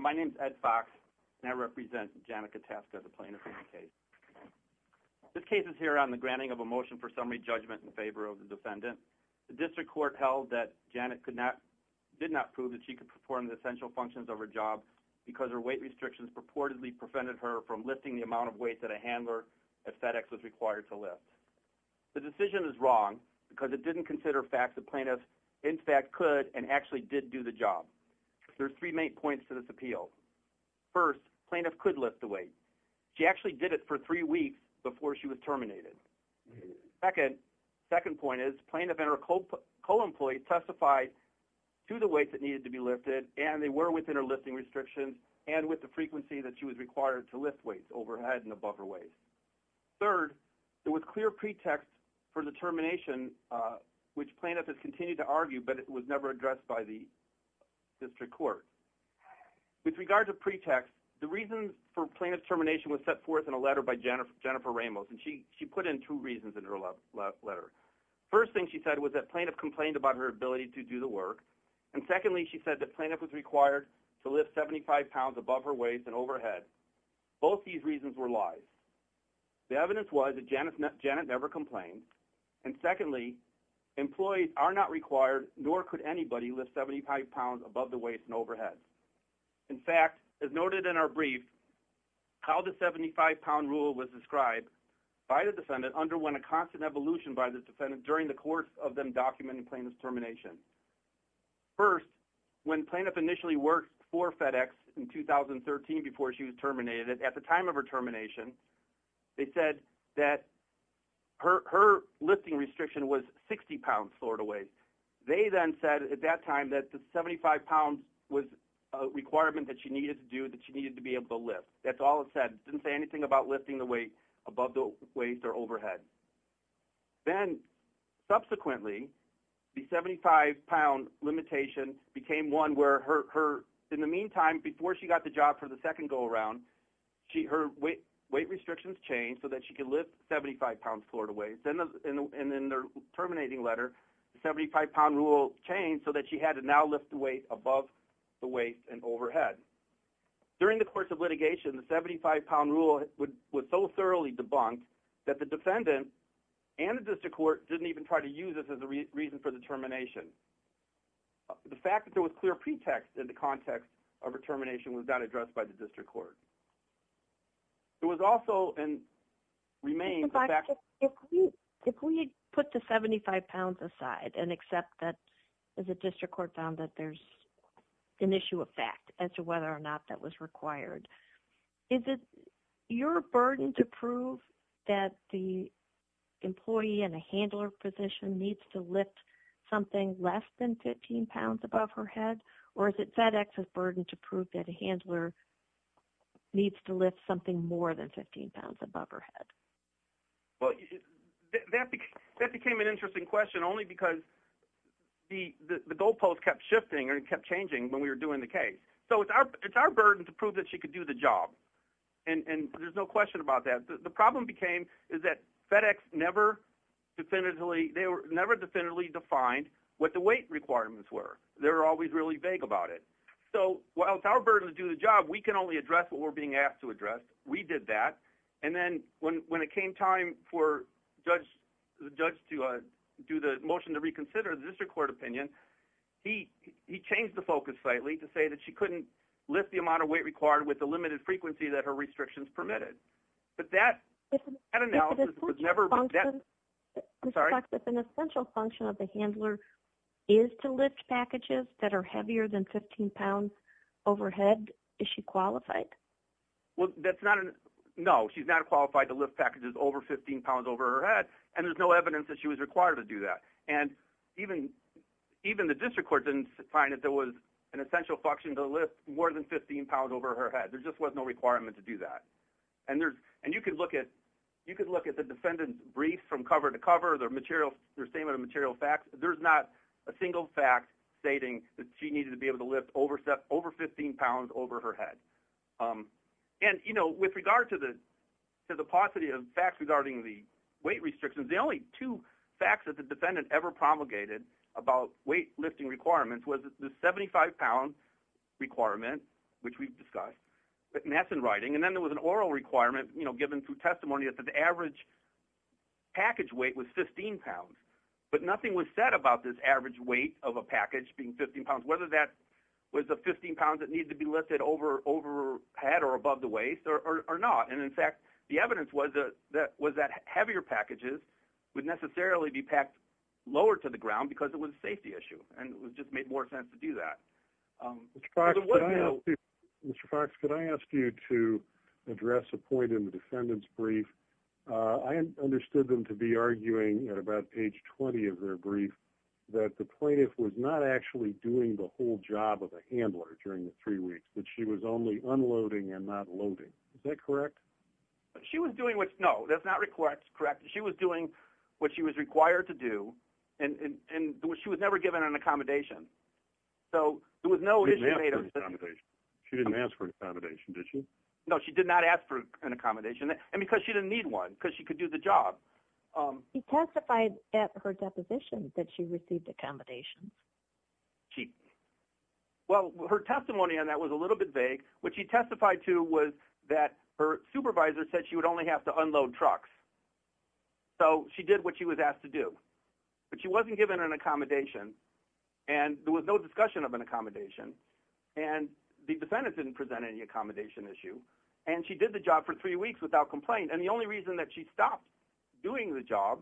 My name is Ed Fox, and I represent Janet Kotaska as a plaintiff in this case. This case is here on the granting of a motion for summary judgment in favor of the defendant. The district court held that Janet did not prove that she could perform the essential functions of her job because her weight restrictions purportedly prevented her from lifting the amount of weight that a handler at FedEx was required to lift. The decision is wrong because it didn't consider facts that plaintiffs in fact could and actually did do the job. There are three main points to this appeal. First, plaintiff could lift the weight. She actually did it for three weeks before she was terminated. Second, plaintiff and her co-employee testified to the weights that needed to be lifted, and they were within her lifting restrictions and with the frequency that she was required to lift weights overhead and above her waist. Third, there was clear pretext for the termination, which plaintiff has continued to argue, but it was never addressed by the district court. With regard to pretext, the reason for plaintiff's termination was set forth in a letter by Jennifer Ramos. And she put in two reasons in her letter. First thing she said was that plaintiff complained about her ability to do the work. And secondly, she said that plaintiff was required to lift 75 pounds above her waist and overhead. Both these reasons were lies. The evidence was that Janet never complained. And secondly, employees are not required nor could anybody lift 75 pounds above the waist and overhead. In fact, as noted in our brief, how the 75-pound rule was described by the defendant underwent a constant evolution by the defendant during the course of them documenting plaintiff's termination. First, when plaintiff initially worked for FedEx in 2013 before she was terminated, at the time of her termination, they said that her lifting restriction was 60 pounds forward of weight. They then said at that time that the 75 pounds was a requirement that she needed to do, that she needed to be able to lift. That's all it said. It didn't say anything about lifting the weight above the waist or overhead. Then, subsequently, the 75-pound limitation became one where in the meantime, before she got the job for the second go-around, her weight restrictions changed so that she could lift 75 pounds forward of weight. In the terminating letter, the 75-pound rule changed so that she had to now lift the weight above the waist and overhead. During the course of litigation, the 75-pound rule was so thoroughly debunked that the defendant and the district court didn't even try to use this as a reason for the termination. The fact that there was clear pretext in the context of her termination was not addressed by the district court. It was also – and remains – If we put the 75 pounds aside and accept that the district court found that there's an issue of fact as to whether or not that was required, is it your burden to prove that the employee in a handler position needs to lift something less than 15 pounds above her head, or is it FedEx's burden to prove that a handler needs to lift something more than 15 pounds above her head? That became an interesting question only because the goalpost kept shifting and kept changing when we were doing the case. It's our burden to prove that she could do the job, and there's no question about that. The problem became is that FedEx never definitively defined what the weight requirements were. They were always really vague about it. So while it's our burden to do the job, we can only address what we're being asked to address. We did that, and then when it came time for the judge to do the motion to reconsider the district court opinion, he changed the focus slightly to say that she couldn't lift the amount of weight required with the limited frequency that her restrictions permitted. If an essential function of the handler is to lift packages that are heavier than 15 pounds overhead, is she qualified? No, she's not qualified to lift packages over 15 pounds over her head, and there's no evidence that she was required to do that. Even the district court didn't find that there was an essential function to lift more than 15 pounds over her head. There just was no requirement to do that. And you could look at the defendant's brief from cover to cover, their statement of material facts. There's not a single fact stating that she needed to be able to lift over 15 pounds overhead. And with regard to the paucity of facts regarding the weight restrictions, the only two facts that the defendant ever promulgated about weight lifting requirements was the 75-pound requirement, which we've discussed, and that's in writing. And then there was an oral requirement given through testimony that the average package weight was 15 pounds, but nothing was said about this average weight of a package being 15 pounds, whether that was a 15 pounds that needed to be lifted overhead or above the waist or not. And in fact, the evidence was that heavier packages would necessarily be packed lower to the ground because it was a safety issue and it just made more sense to do that. Mr. Fox, could I ask you to address a point in the defendant's brief? I understood them to be arguing at about page 20 of their brief that the plaintiff was not actually doing the whole job of a handler during the three weeks, that she was only unloading and not loading. Is that correct? She was doing what she was required to do, and she was never given an accommodation. She didn't ask for an accommodation, did she? No, she did not ask for an accommodation, and because she didn't need one, because she could do the job. She testified at her deposition that she received accommodations. Well, her testimony on that was a little bit vague. What she testified to was that her supervisor said she would only have to unload trucks. So she did what she was asked to do, but she wasn't given an accommodation, and there was no discussion of an accommodation, and the defendant didn't present any accommodation issue, and she did the job for three weeks without complaint. And the only reason that she stopped doing the job,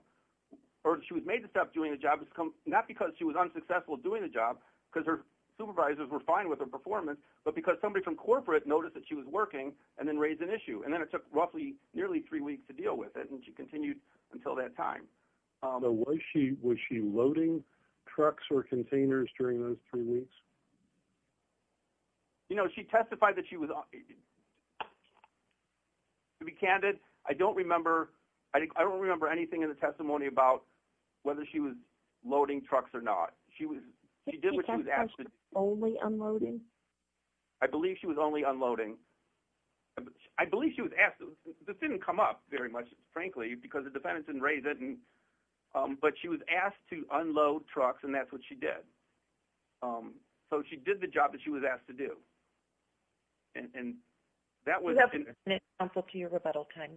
or she was made to stop doing the job, was not because she was unsuccessful doing the job because her supervisors were fine with her performance, but because somebody from corporate noticed that she was working and then raised an issue. And then it took roughly nearly three weeks to deal with it, and she continued until that time. So was she loading trucks or containers during those three weeks? You know, she testified that she was – to be candid, I don't remember anything in the testimony about whether she was loading trucks or not. She did what she was asked to do. Was she only unloading? I believe she was only unloading. I believe she was asked – this didn't come up very much, frankly, because the defendant didn't raise it, but she was asked to unload trucks, and that's what she did. So she did the job that she was asked to do. And that was – You have to submit to counsel to your rebuttal time.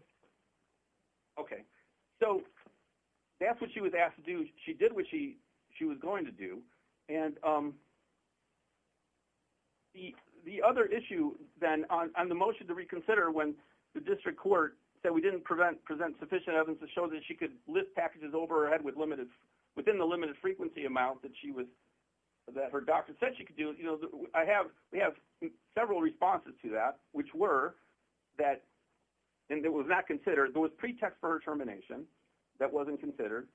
Okay. So that's what she was asked to do. She did what she was going to do. And the other issue, then, on the motion to reconsider, when the district court said we didn't present sufficient evidence to show that she could lift packages over her head within the limited frequency amount that her doctor said she could do, we have several responses to that, which were that – and it was not considered. There was pretext for her termination that wasn't considered.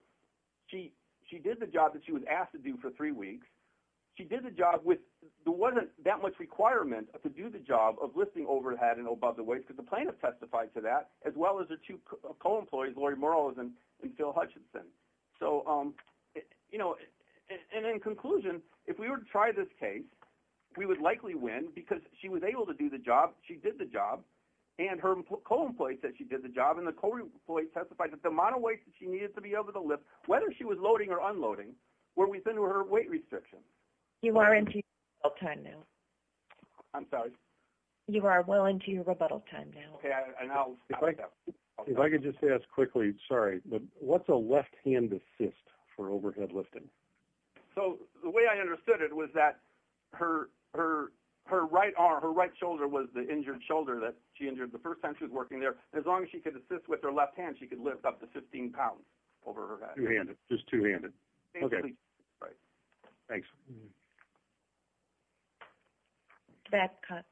She did the job that she was asked to do for three weeks. She did the job with – there wasn't that much requirement to do the job of lifting overhead and above the waist, because the plaintiff testified to that, as well as her two co-employees, Lori Morales and Phil Hutchinson. So, you know, and in conclusion, if we were to try this case, we would likely win because she was able to do the job, she did the job, and her co-employee said she did the job, and the co-employee testified that the amount of weight that she needed to be able to lift, whether she was loading or unloading, were within her weight restrictions. You are into your rebuttal time now. I'm sorry? You are well into your rebuttal time now. Okay, and I'll stop at that point. If I could just ask quickly, sorry, but what's a left-hand assist for overhead lifting? So the way I understood it was that her right arm, her right shoulder, was the injured shoulder that she injured the first time she was working there. As long as she could assist with her left hand, she could lift up to 15 pounds over her head. Two-handed, just two-handed. Okay. Right. Thanks. Babcock.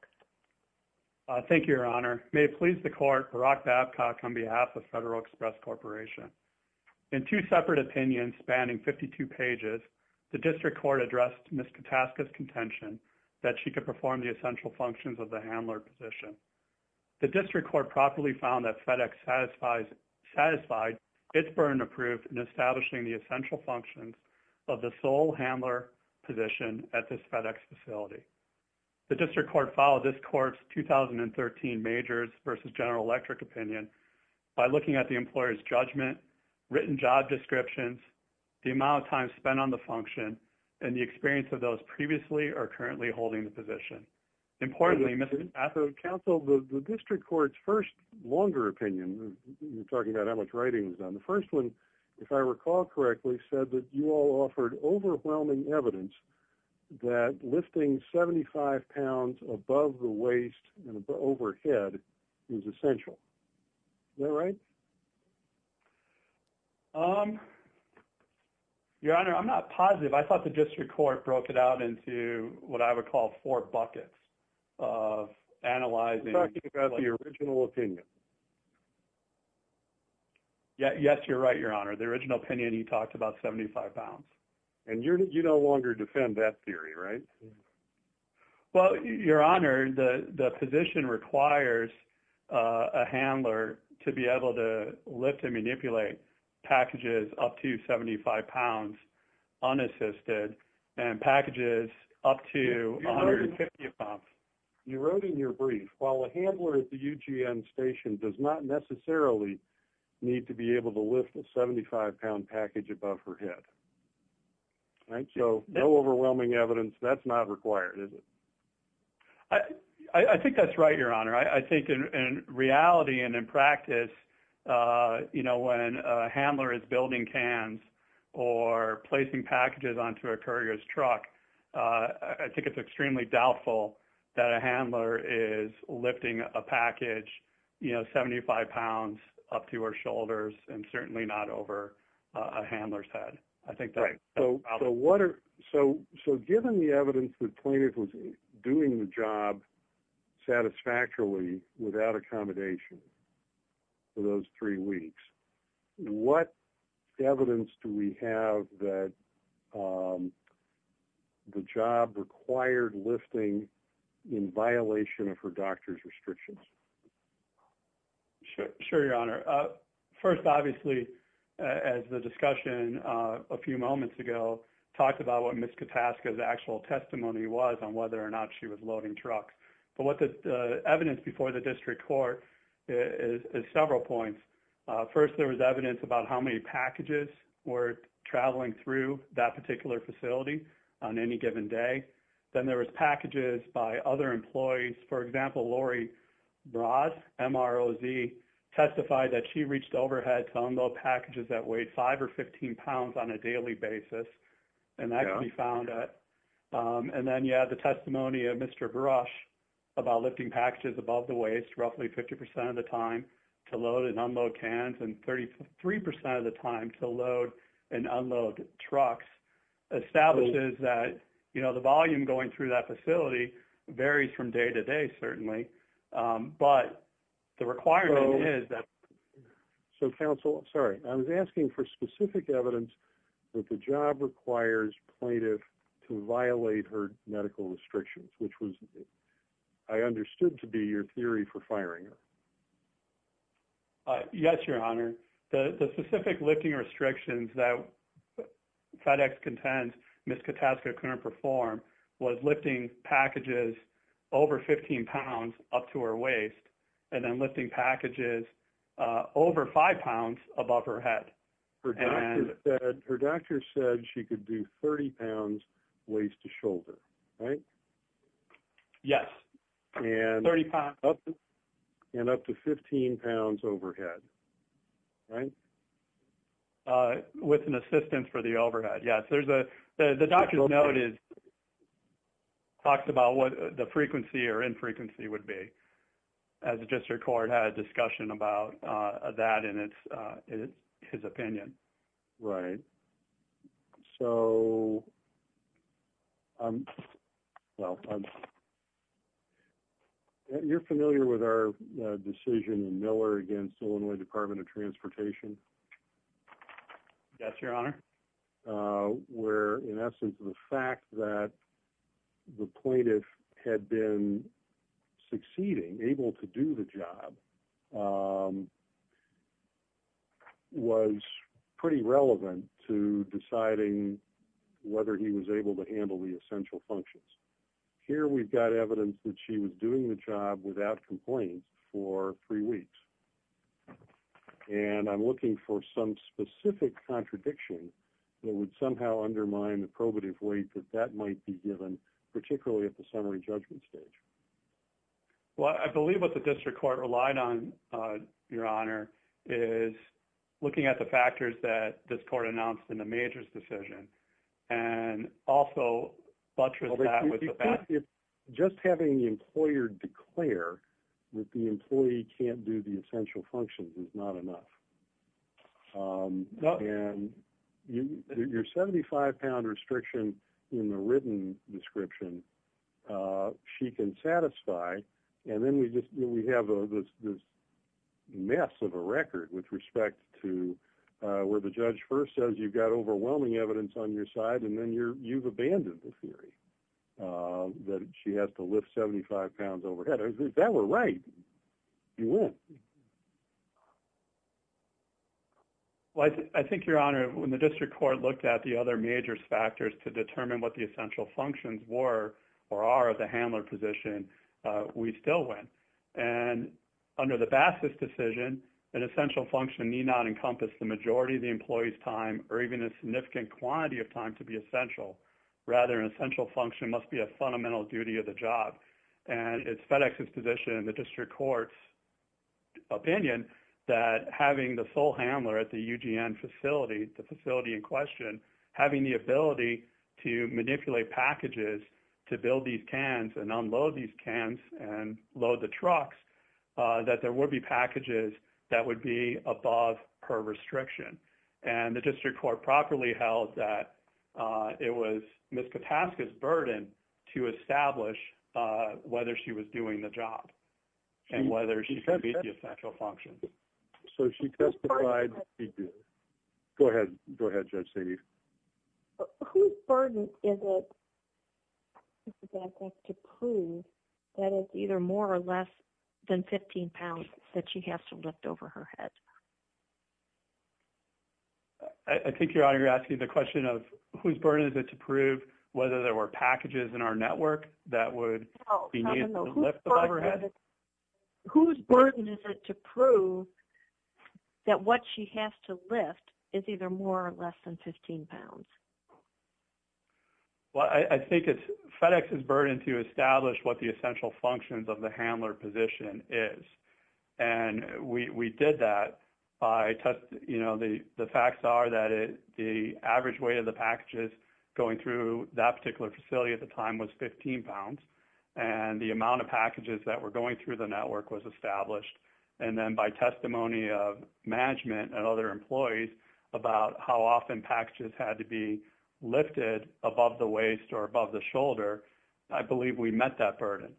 Thank you, Your Honor. May it please the Court, Barack Babcock on behalf of Federal Express Corporation. In two separate opinions spanning 52 pages, the district court addressed Ms. Kataska's contention that she could perform the essential functions of the handler position. The district court properly found that FedEx satisfied its burden of proof in establishing the essential functions of the sole handler position at this FedEx facility. The district court followed this court's 2013 majors versus general electric opinion by looking at the employer's judgment, written job descriptions, the amount of time spent on the function, and the experience of those previously or currently holding the position. Importantly, Mr. Atherton. Counsel, the district court's first longer opinion, you're talking about how much writing was done, the first one, if I recall correctly, said that you all offered overwhelming evidence that lifting 75 pounds above the waist and overhead is essential. Is that right? Your Honor, I'm not positive. I thought the district court broke it out into what I would call four buckets of analyzing. You're talking about the original opinion. Yes, you're right, Your Honor. The original opinion, you talked about 75 pounds. And you no longer defend that theory, right? Well, Your Honor, the position requires a handler to be able to lift and manipulate packages up to 75 pounds unassisted and packages up to 150 pounds. You wrote in your brief, while a handler at the UGM station does not necessarily need to be able to lift a 75-pound package above her head. So no overwhelming evidence, that's not required, is it? I think that's right, Your Honor. I think in reality and in practice, when a handler is building cans or placing packages onto a courier's truck, I think it's extremely doubtful that a handler is lifting a package 75 pounds up to her shoulders and certainly not over a handler's head. So given the evidence that Plaintiff was doing the job satisfactorily without accommodation for those three weeks, what evidence do we have that the job required lifting in violation of her doctor's restrictions? Sure, Your Honor. First, obviously, as the discussion a few moments ago talked about what Ms. Kataska's actual testimony was on whether or not she was loading trucks. But what the evidence before the district court is several points. First, there was evidence about how many packages were traveling through that particular facility on any given day. Then there was packages by other employees. For example, Lori Broz, M-R-O-Z, testified that she reached overhead to unload packages that weighed 5 or 15 pounds on a daily basis. And that can be found. And then you have the testimony of Mr. Brosh about lifting packages above the waist roughly 50 percent of the time to load and unload cans and 33 percent of the time to load and unload trucks establishes that the volume going through that facility varies from day to day, certainly. But the requirement is that... So, Counsel, I'm sorry. I was asking for specific evidence that the job requires Plaintiff to violate her medical restrictions, which I understood to be your theory for firing her. Yes, Your Honor. The specific lifting restrictions that FedEx contends Ms. Kataska couldn't perform was lifting packages over 15 pounds up to her waist and then lifting packages over 5 pounds above her head. Her doctor said she could do 30 pounds waist to shoulder, right? Yes. And up to 15 pounds overhead, right? With an assistance for the overhead, yes. The doctor noted, talked about what the frequency or infrequency would be. As I just recorded, had a discussion about that in his opinion. Right. So, you're familiar with our decision in Miller against Illinois Department of Transportation? Yes, Your Honor. Where, in essence, the fact that the plaintiff had been succeeding, able to do the job, was pretty relevant to deciding whether he was able to handle the essential functions. Here we've got evidence that she was doing the job without complaints for three weeks. And I'm looking for some specific contradiction that would somehow undermine the probative weight that that might be given, particularly at the summary judgment stage. Well, I believe what the district court relied on, Your Honor, is looking at the factors that this court announced in the Majors' decision and also butchered that with the fact... ...that the essential functions is not enough. And your 75-pound restriction in the written description, she can satisfy. And then we have this mess of a record with respect to where the judge first says you've got overwhelming evidence on your side and then you've abandoned the theory that she has to lift 75 pounds overhead. If that were right, you would. Well, I think, Your Honor, when the district court looked at the other Majors' factors to determine what the essential functions were or are of the handler position, we still went. And under the Bassett's decision, an essential function need not encompass the majority of the employee's time or even a significant quantity of time to be essential. Rather, an essential function must be a fundamental duty of the job. And it's FedEx's position and the district court's opinion that having the sole handler at the UGN facility, the facility in question, having the ability to manipulate packages to build these cans and unload these cans and load the trucks, that there would be packages that would be above her restriction. And the district court properly held that it was Ms. Kapaska's burden to establish whether she was doing the job and whether she could meet the essential functions. So she testified. Go ahead. Go ahead, Judge Saini. Whose burden is it to prove that it's either more or less than 15 pounds that she has to lift overhead? I think, Your Honor, you're asking the question of whose burden is it to prove whether there were packages in our network that would be needed to lift overhead? Whose burden is it to prove that what she has to lift is either more or less than 15 pounds? Well, I think it's FedEx's burden to establish what the essential functions of the handler position is. And we did that by, you know, the facts are that the average weight of the packages going through that particular facility at the time was 15 pounds. And the amount of packages that were going through the network was established. And then by testimony of management and other employees about how often packages had to be lifted above the waist or above the shoulder, I believe we met that burden.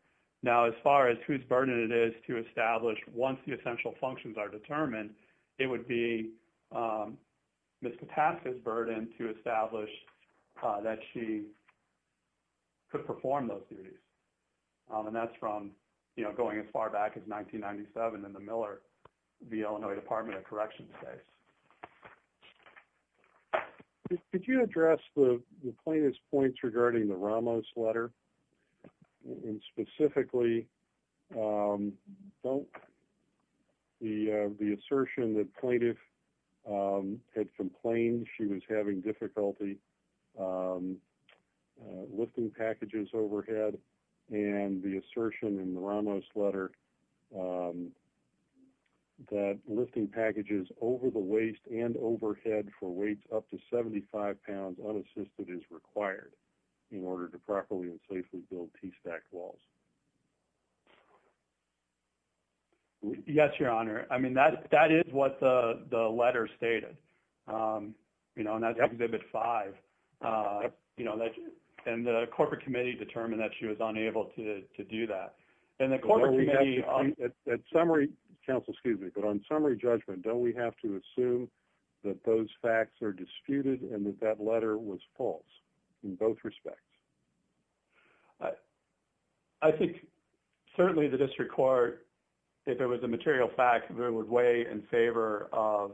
Now, as far as whose burden it is to establish once the essential functions are determined, it would be Ms. Kataska's burden to establish that she could perform those duties. And that's from, you know, going as far back as 1997 in the Miller v. Illinois Department of Corrections case. Could you address the plaintiff's points regarding the Ramos letter, and specifically the assertion that plaintiff had complained she was having difficulty lifting packages overhead, and the assertion in the Ramos letter that lifting packages over the waist and overhead for weights up to 75 pounds unassisted is required in order to properly and safely build T-stacked walls? Yes, Your Honor. I mean, that is what the letter stated. You know, and that's Exhibit 5. And the corporate committee determined that she was unable to do that. And the corporate committee... Counsel, excuse me, but on summary judgment, don't we have to assume that those facts are disputed and that that letter was false in both respects? I think certainly the district court, if it was a material fact, would weigh in favor of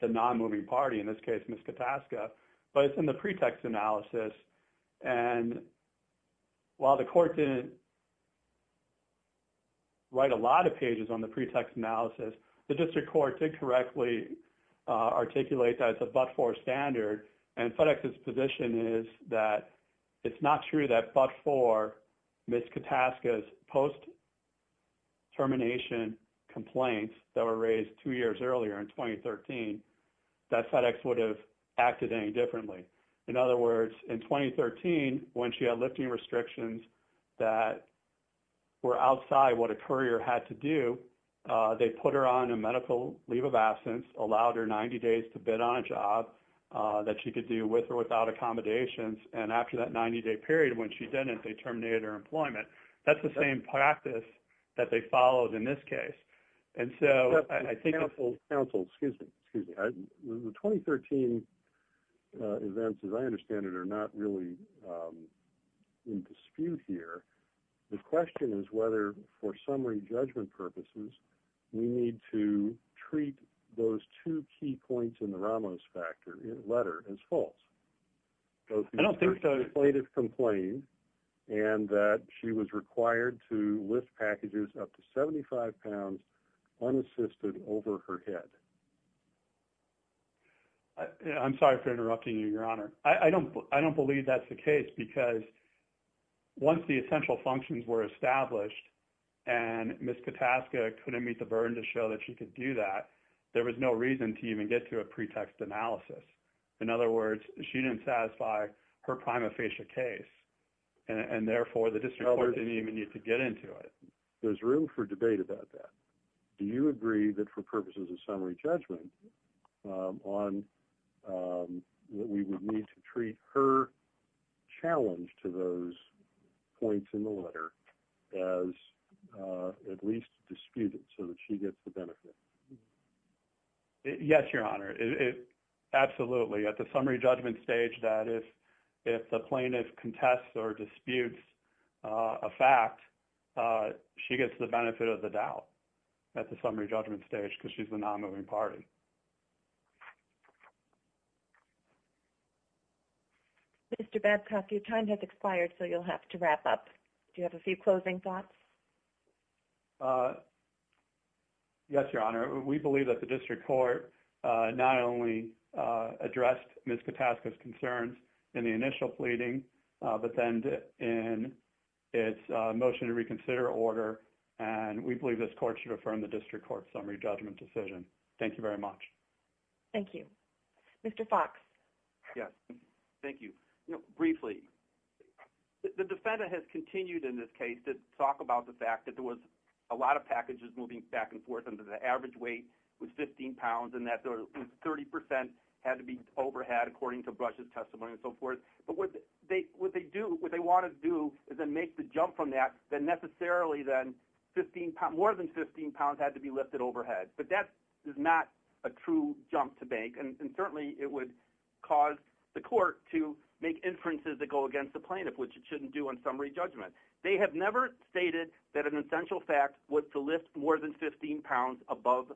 the non-moving party, in this case, Ms. Kataska. But it's in the pretext analysis. And while the court didn't write a lot of pages on the pretext analysis, the district court did correctly articulate that it's a but-for standard. And FedEx's position is that it's not true that but-for Ms. Kataska's post-termination complaints that were raised two years earlier in 2013, that FedEx would have acted any differently. In other words, in 2013, when she had lifting restrictions that were outside what a courier had to do, they put her on a medical leave of absence, allowed her 90 days to bid on a job that she could do with or without accommodations. And after that 90-day period, when she didn't, they terminated her employment. That's the same practice that they followed in this case. Counsel, excuse me. The 2013 events, as I understand it, are not really in dispute here. The question is whether, for summary judgment purposes, we need to treat those two key points in the Ramos factor letter as false. I don't think so. And that she was required to lift packages up to 75 pounds unassisted over her head. I'm sorry for interrupting you, Your Honor. I don't believe that's the case because once the essential functions were established and Ms. Kataska couldn't meet the burden to show that she could do that, there was no reason to even get to a pretext analysis. In other words, she didn't satisfy her prima facie case, and therefore the district court didn't even need to get into it. There's room for debate about that. Do you agree that for purposes of summary judgment, we would need to treat her challenge to those points in the letter as at least disputed so that she gets the benefit? Yes, Your Honor. Absolutely. At the summary judgment stage, that is, if the plaintiff contests or disputes a fact, she gets the benefit of the doubt at the summary judgment stage because she's the nonmoving party. Mr. Babcock, your time has expired, so you'll have to wrap up. Do you have a few closing thoughts? Yes, Your Honor. We believe that the district court not only addressed Ms. Kataska's concerns in the initial pleading, but then in its motion to reconsider order, and we believe this court should affirm the district court's summary judgment decision. Thank you very much. Thank you. Mr. Fox? Yes. Thank you. Briefly, the defendant has continued in this case to talk about the fact that there was a lot of packages moving back and forth and that the average weight was 15 pounds and that 30 percent had to be overhead according to Brush's testimony and so forth. But what they want to do is then make the jump from that that necessarily then more than 15 pounds had to be lifted overhead. But that is not a true jump to make, and certainly it would cause the court to make inferences that go against the plaintiff, which it shouldn't do on summary judgment. They have never stated that an essential fact was to lift more than 15 pounds above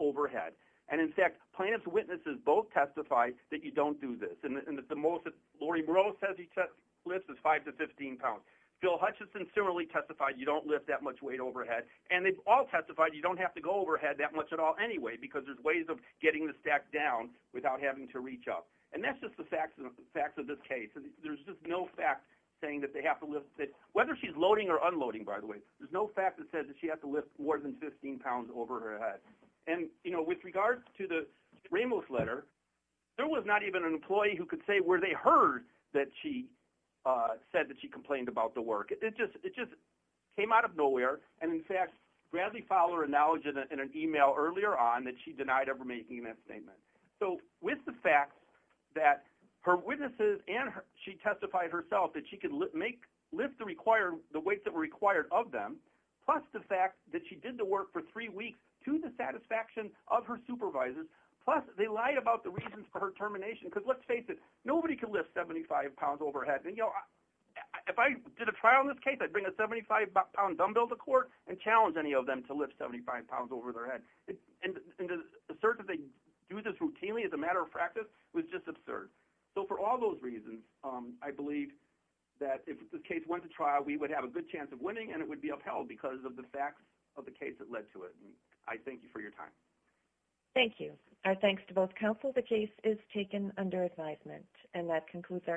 overhead. And, in fact, plaintiff's witnesses both testify that you don't do this, and that the most that Laurie Burroughs says he lifts is 5 to 15 pounds. Phil Hutchison similarly testified you don't lift that much weight overhead. And they've all testified you don't have to go overhead that much at all anyway because there's ways of getting the stack down without having to reach up. And that's just the facts of this case. There's just no fact saying that they have to lift – whether she's loading or unloading, by the way, there's no fact that says that she has to lift more than 15 pounds over her head. And, you know, with regards to the Ramos letter, there was not even an employee who could say where they heard that she said that she complained about the work. It just came out of nowhere. And, in fact, Bradley Fowler acknowledged in an email earlier on that she denied ever making that statement. So with the fact that her witnesses and she testified herself that she could lift the weights that were required of them, plus the fact that she did the work for three weeks to the satisfaction of her supervisors, plus they lied about the reasons for her termination because, let's face it, nobody can lift 75 pounds overhead. And, you know, if I did a trial in this case, I'd bring a 75-pound dumbbell to court and challenge any of them to lift 75 pounds over their head. And to assert that they do this routinely as a matter of practice was just absurd. So for all those reasons, I believe that if this case went to trial, we would have a good chance of winning and it would be upheld because of the facts of the case that led to it. And I thank you for your time. Thank you. Our thanks to both counsel. The case is taken under advisement. And that concludes our Q&A.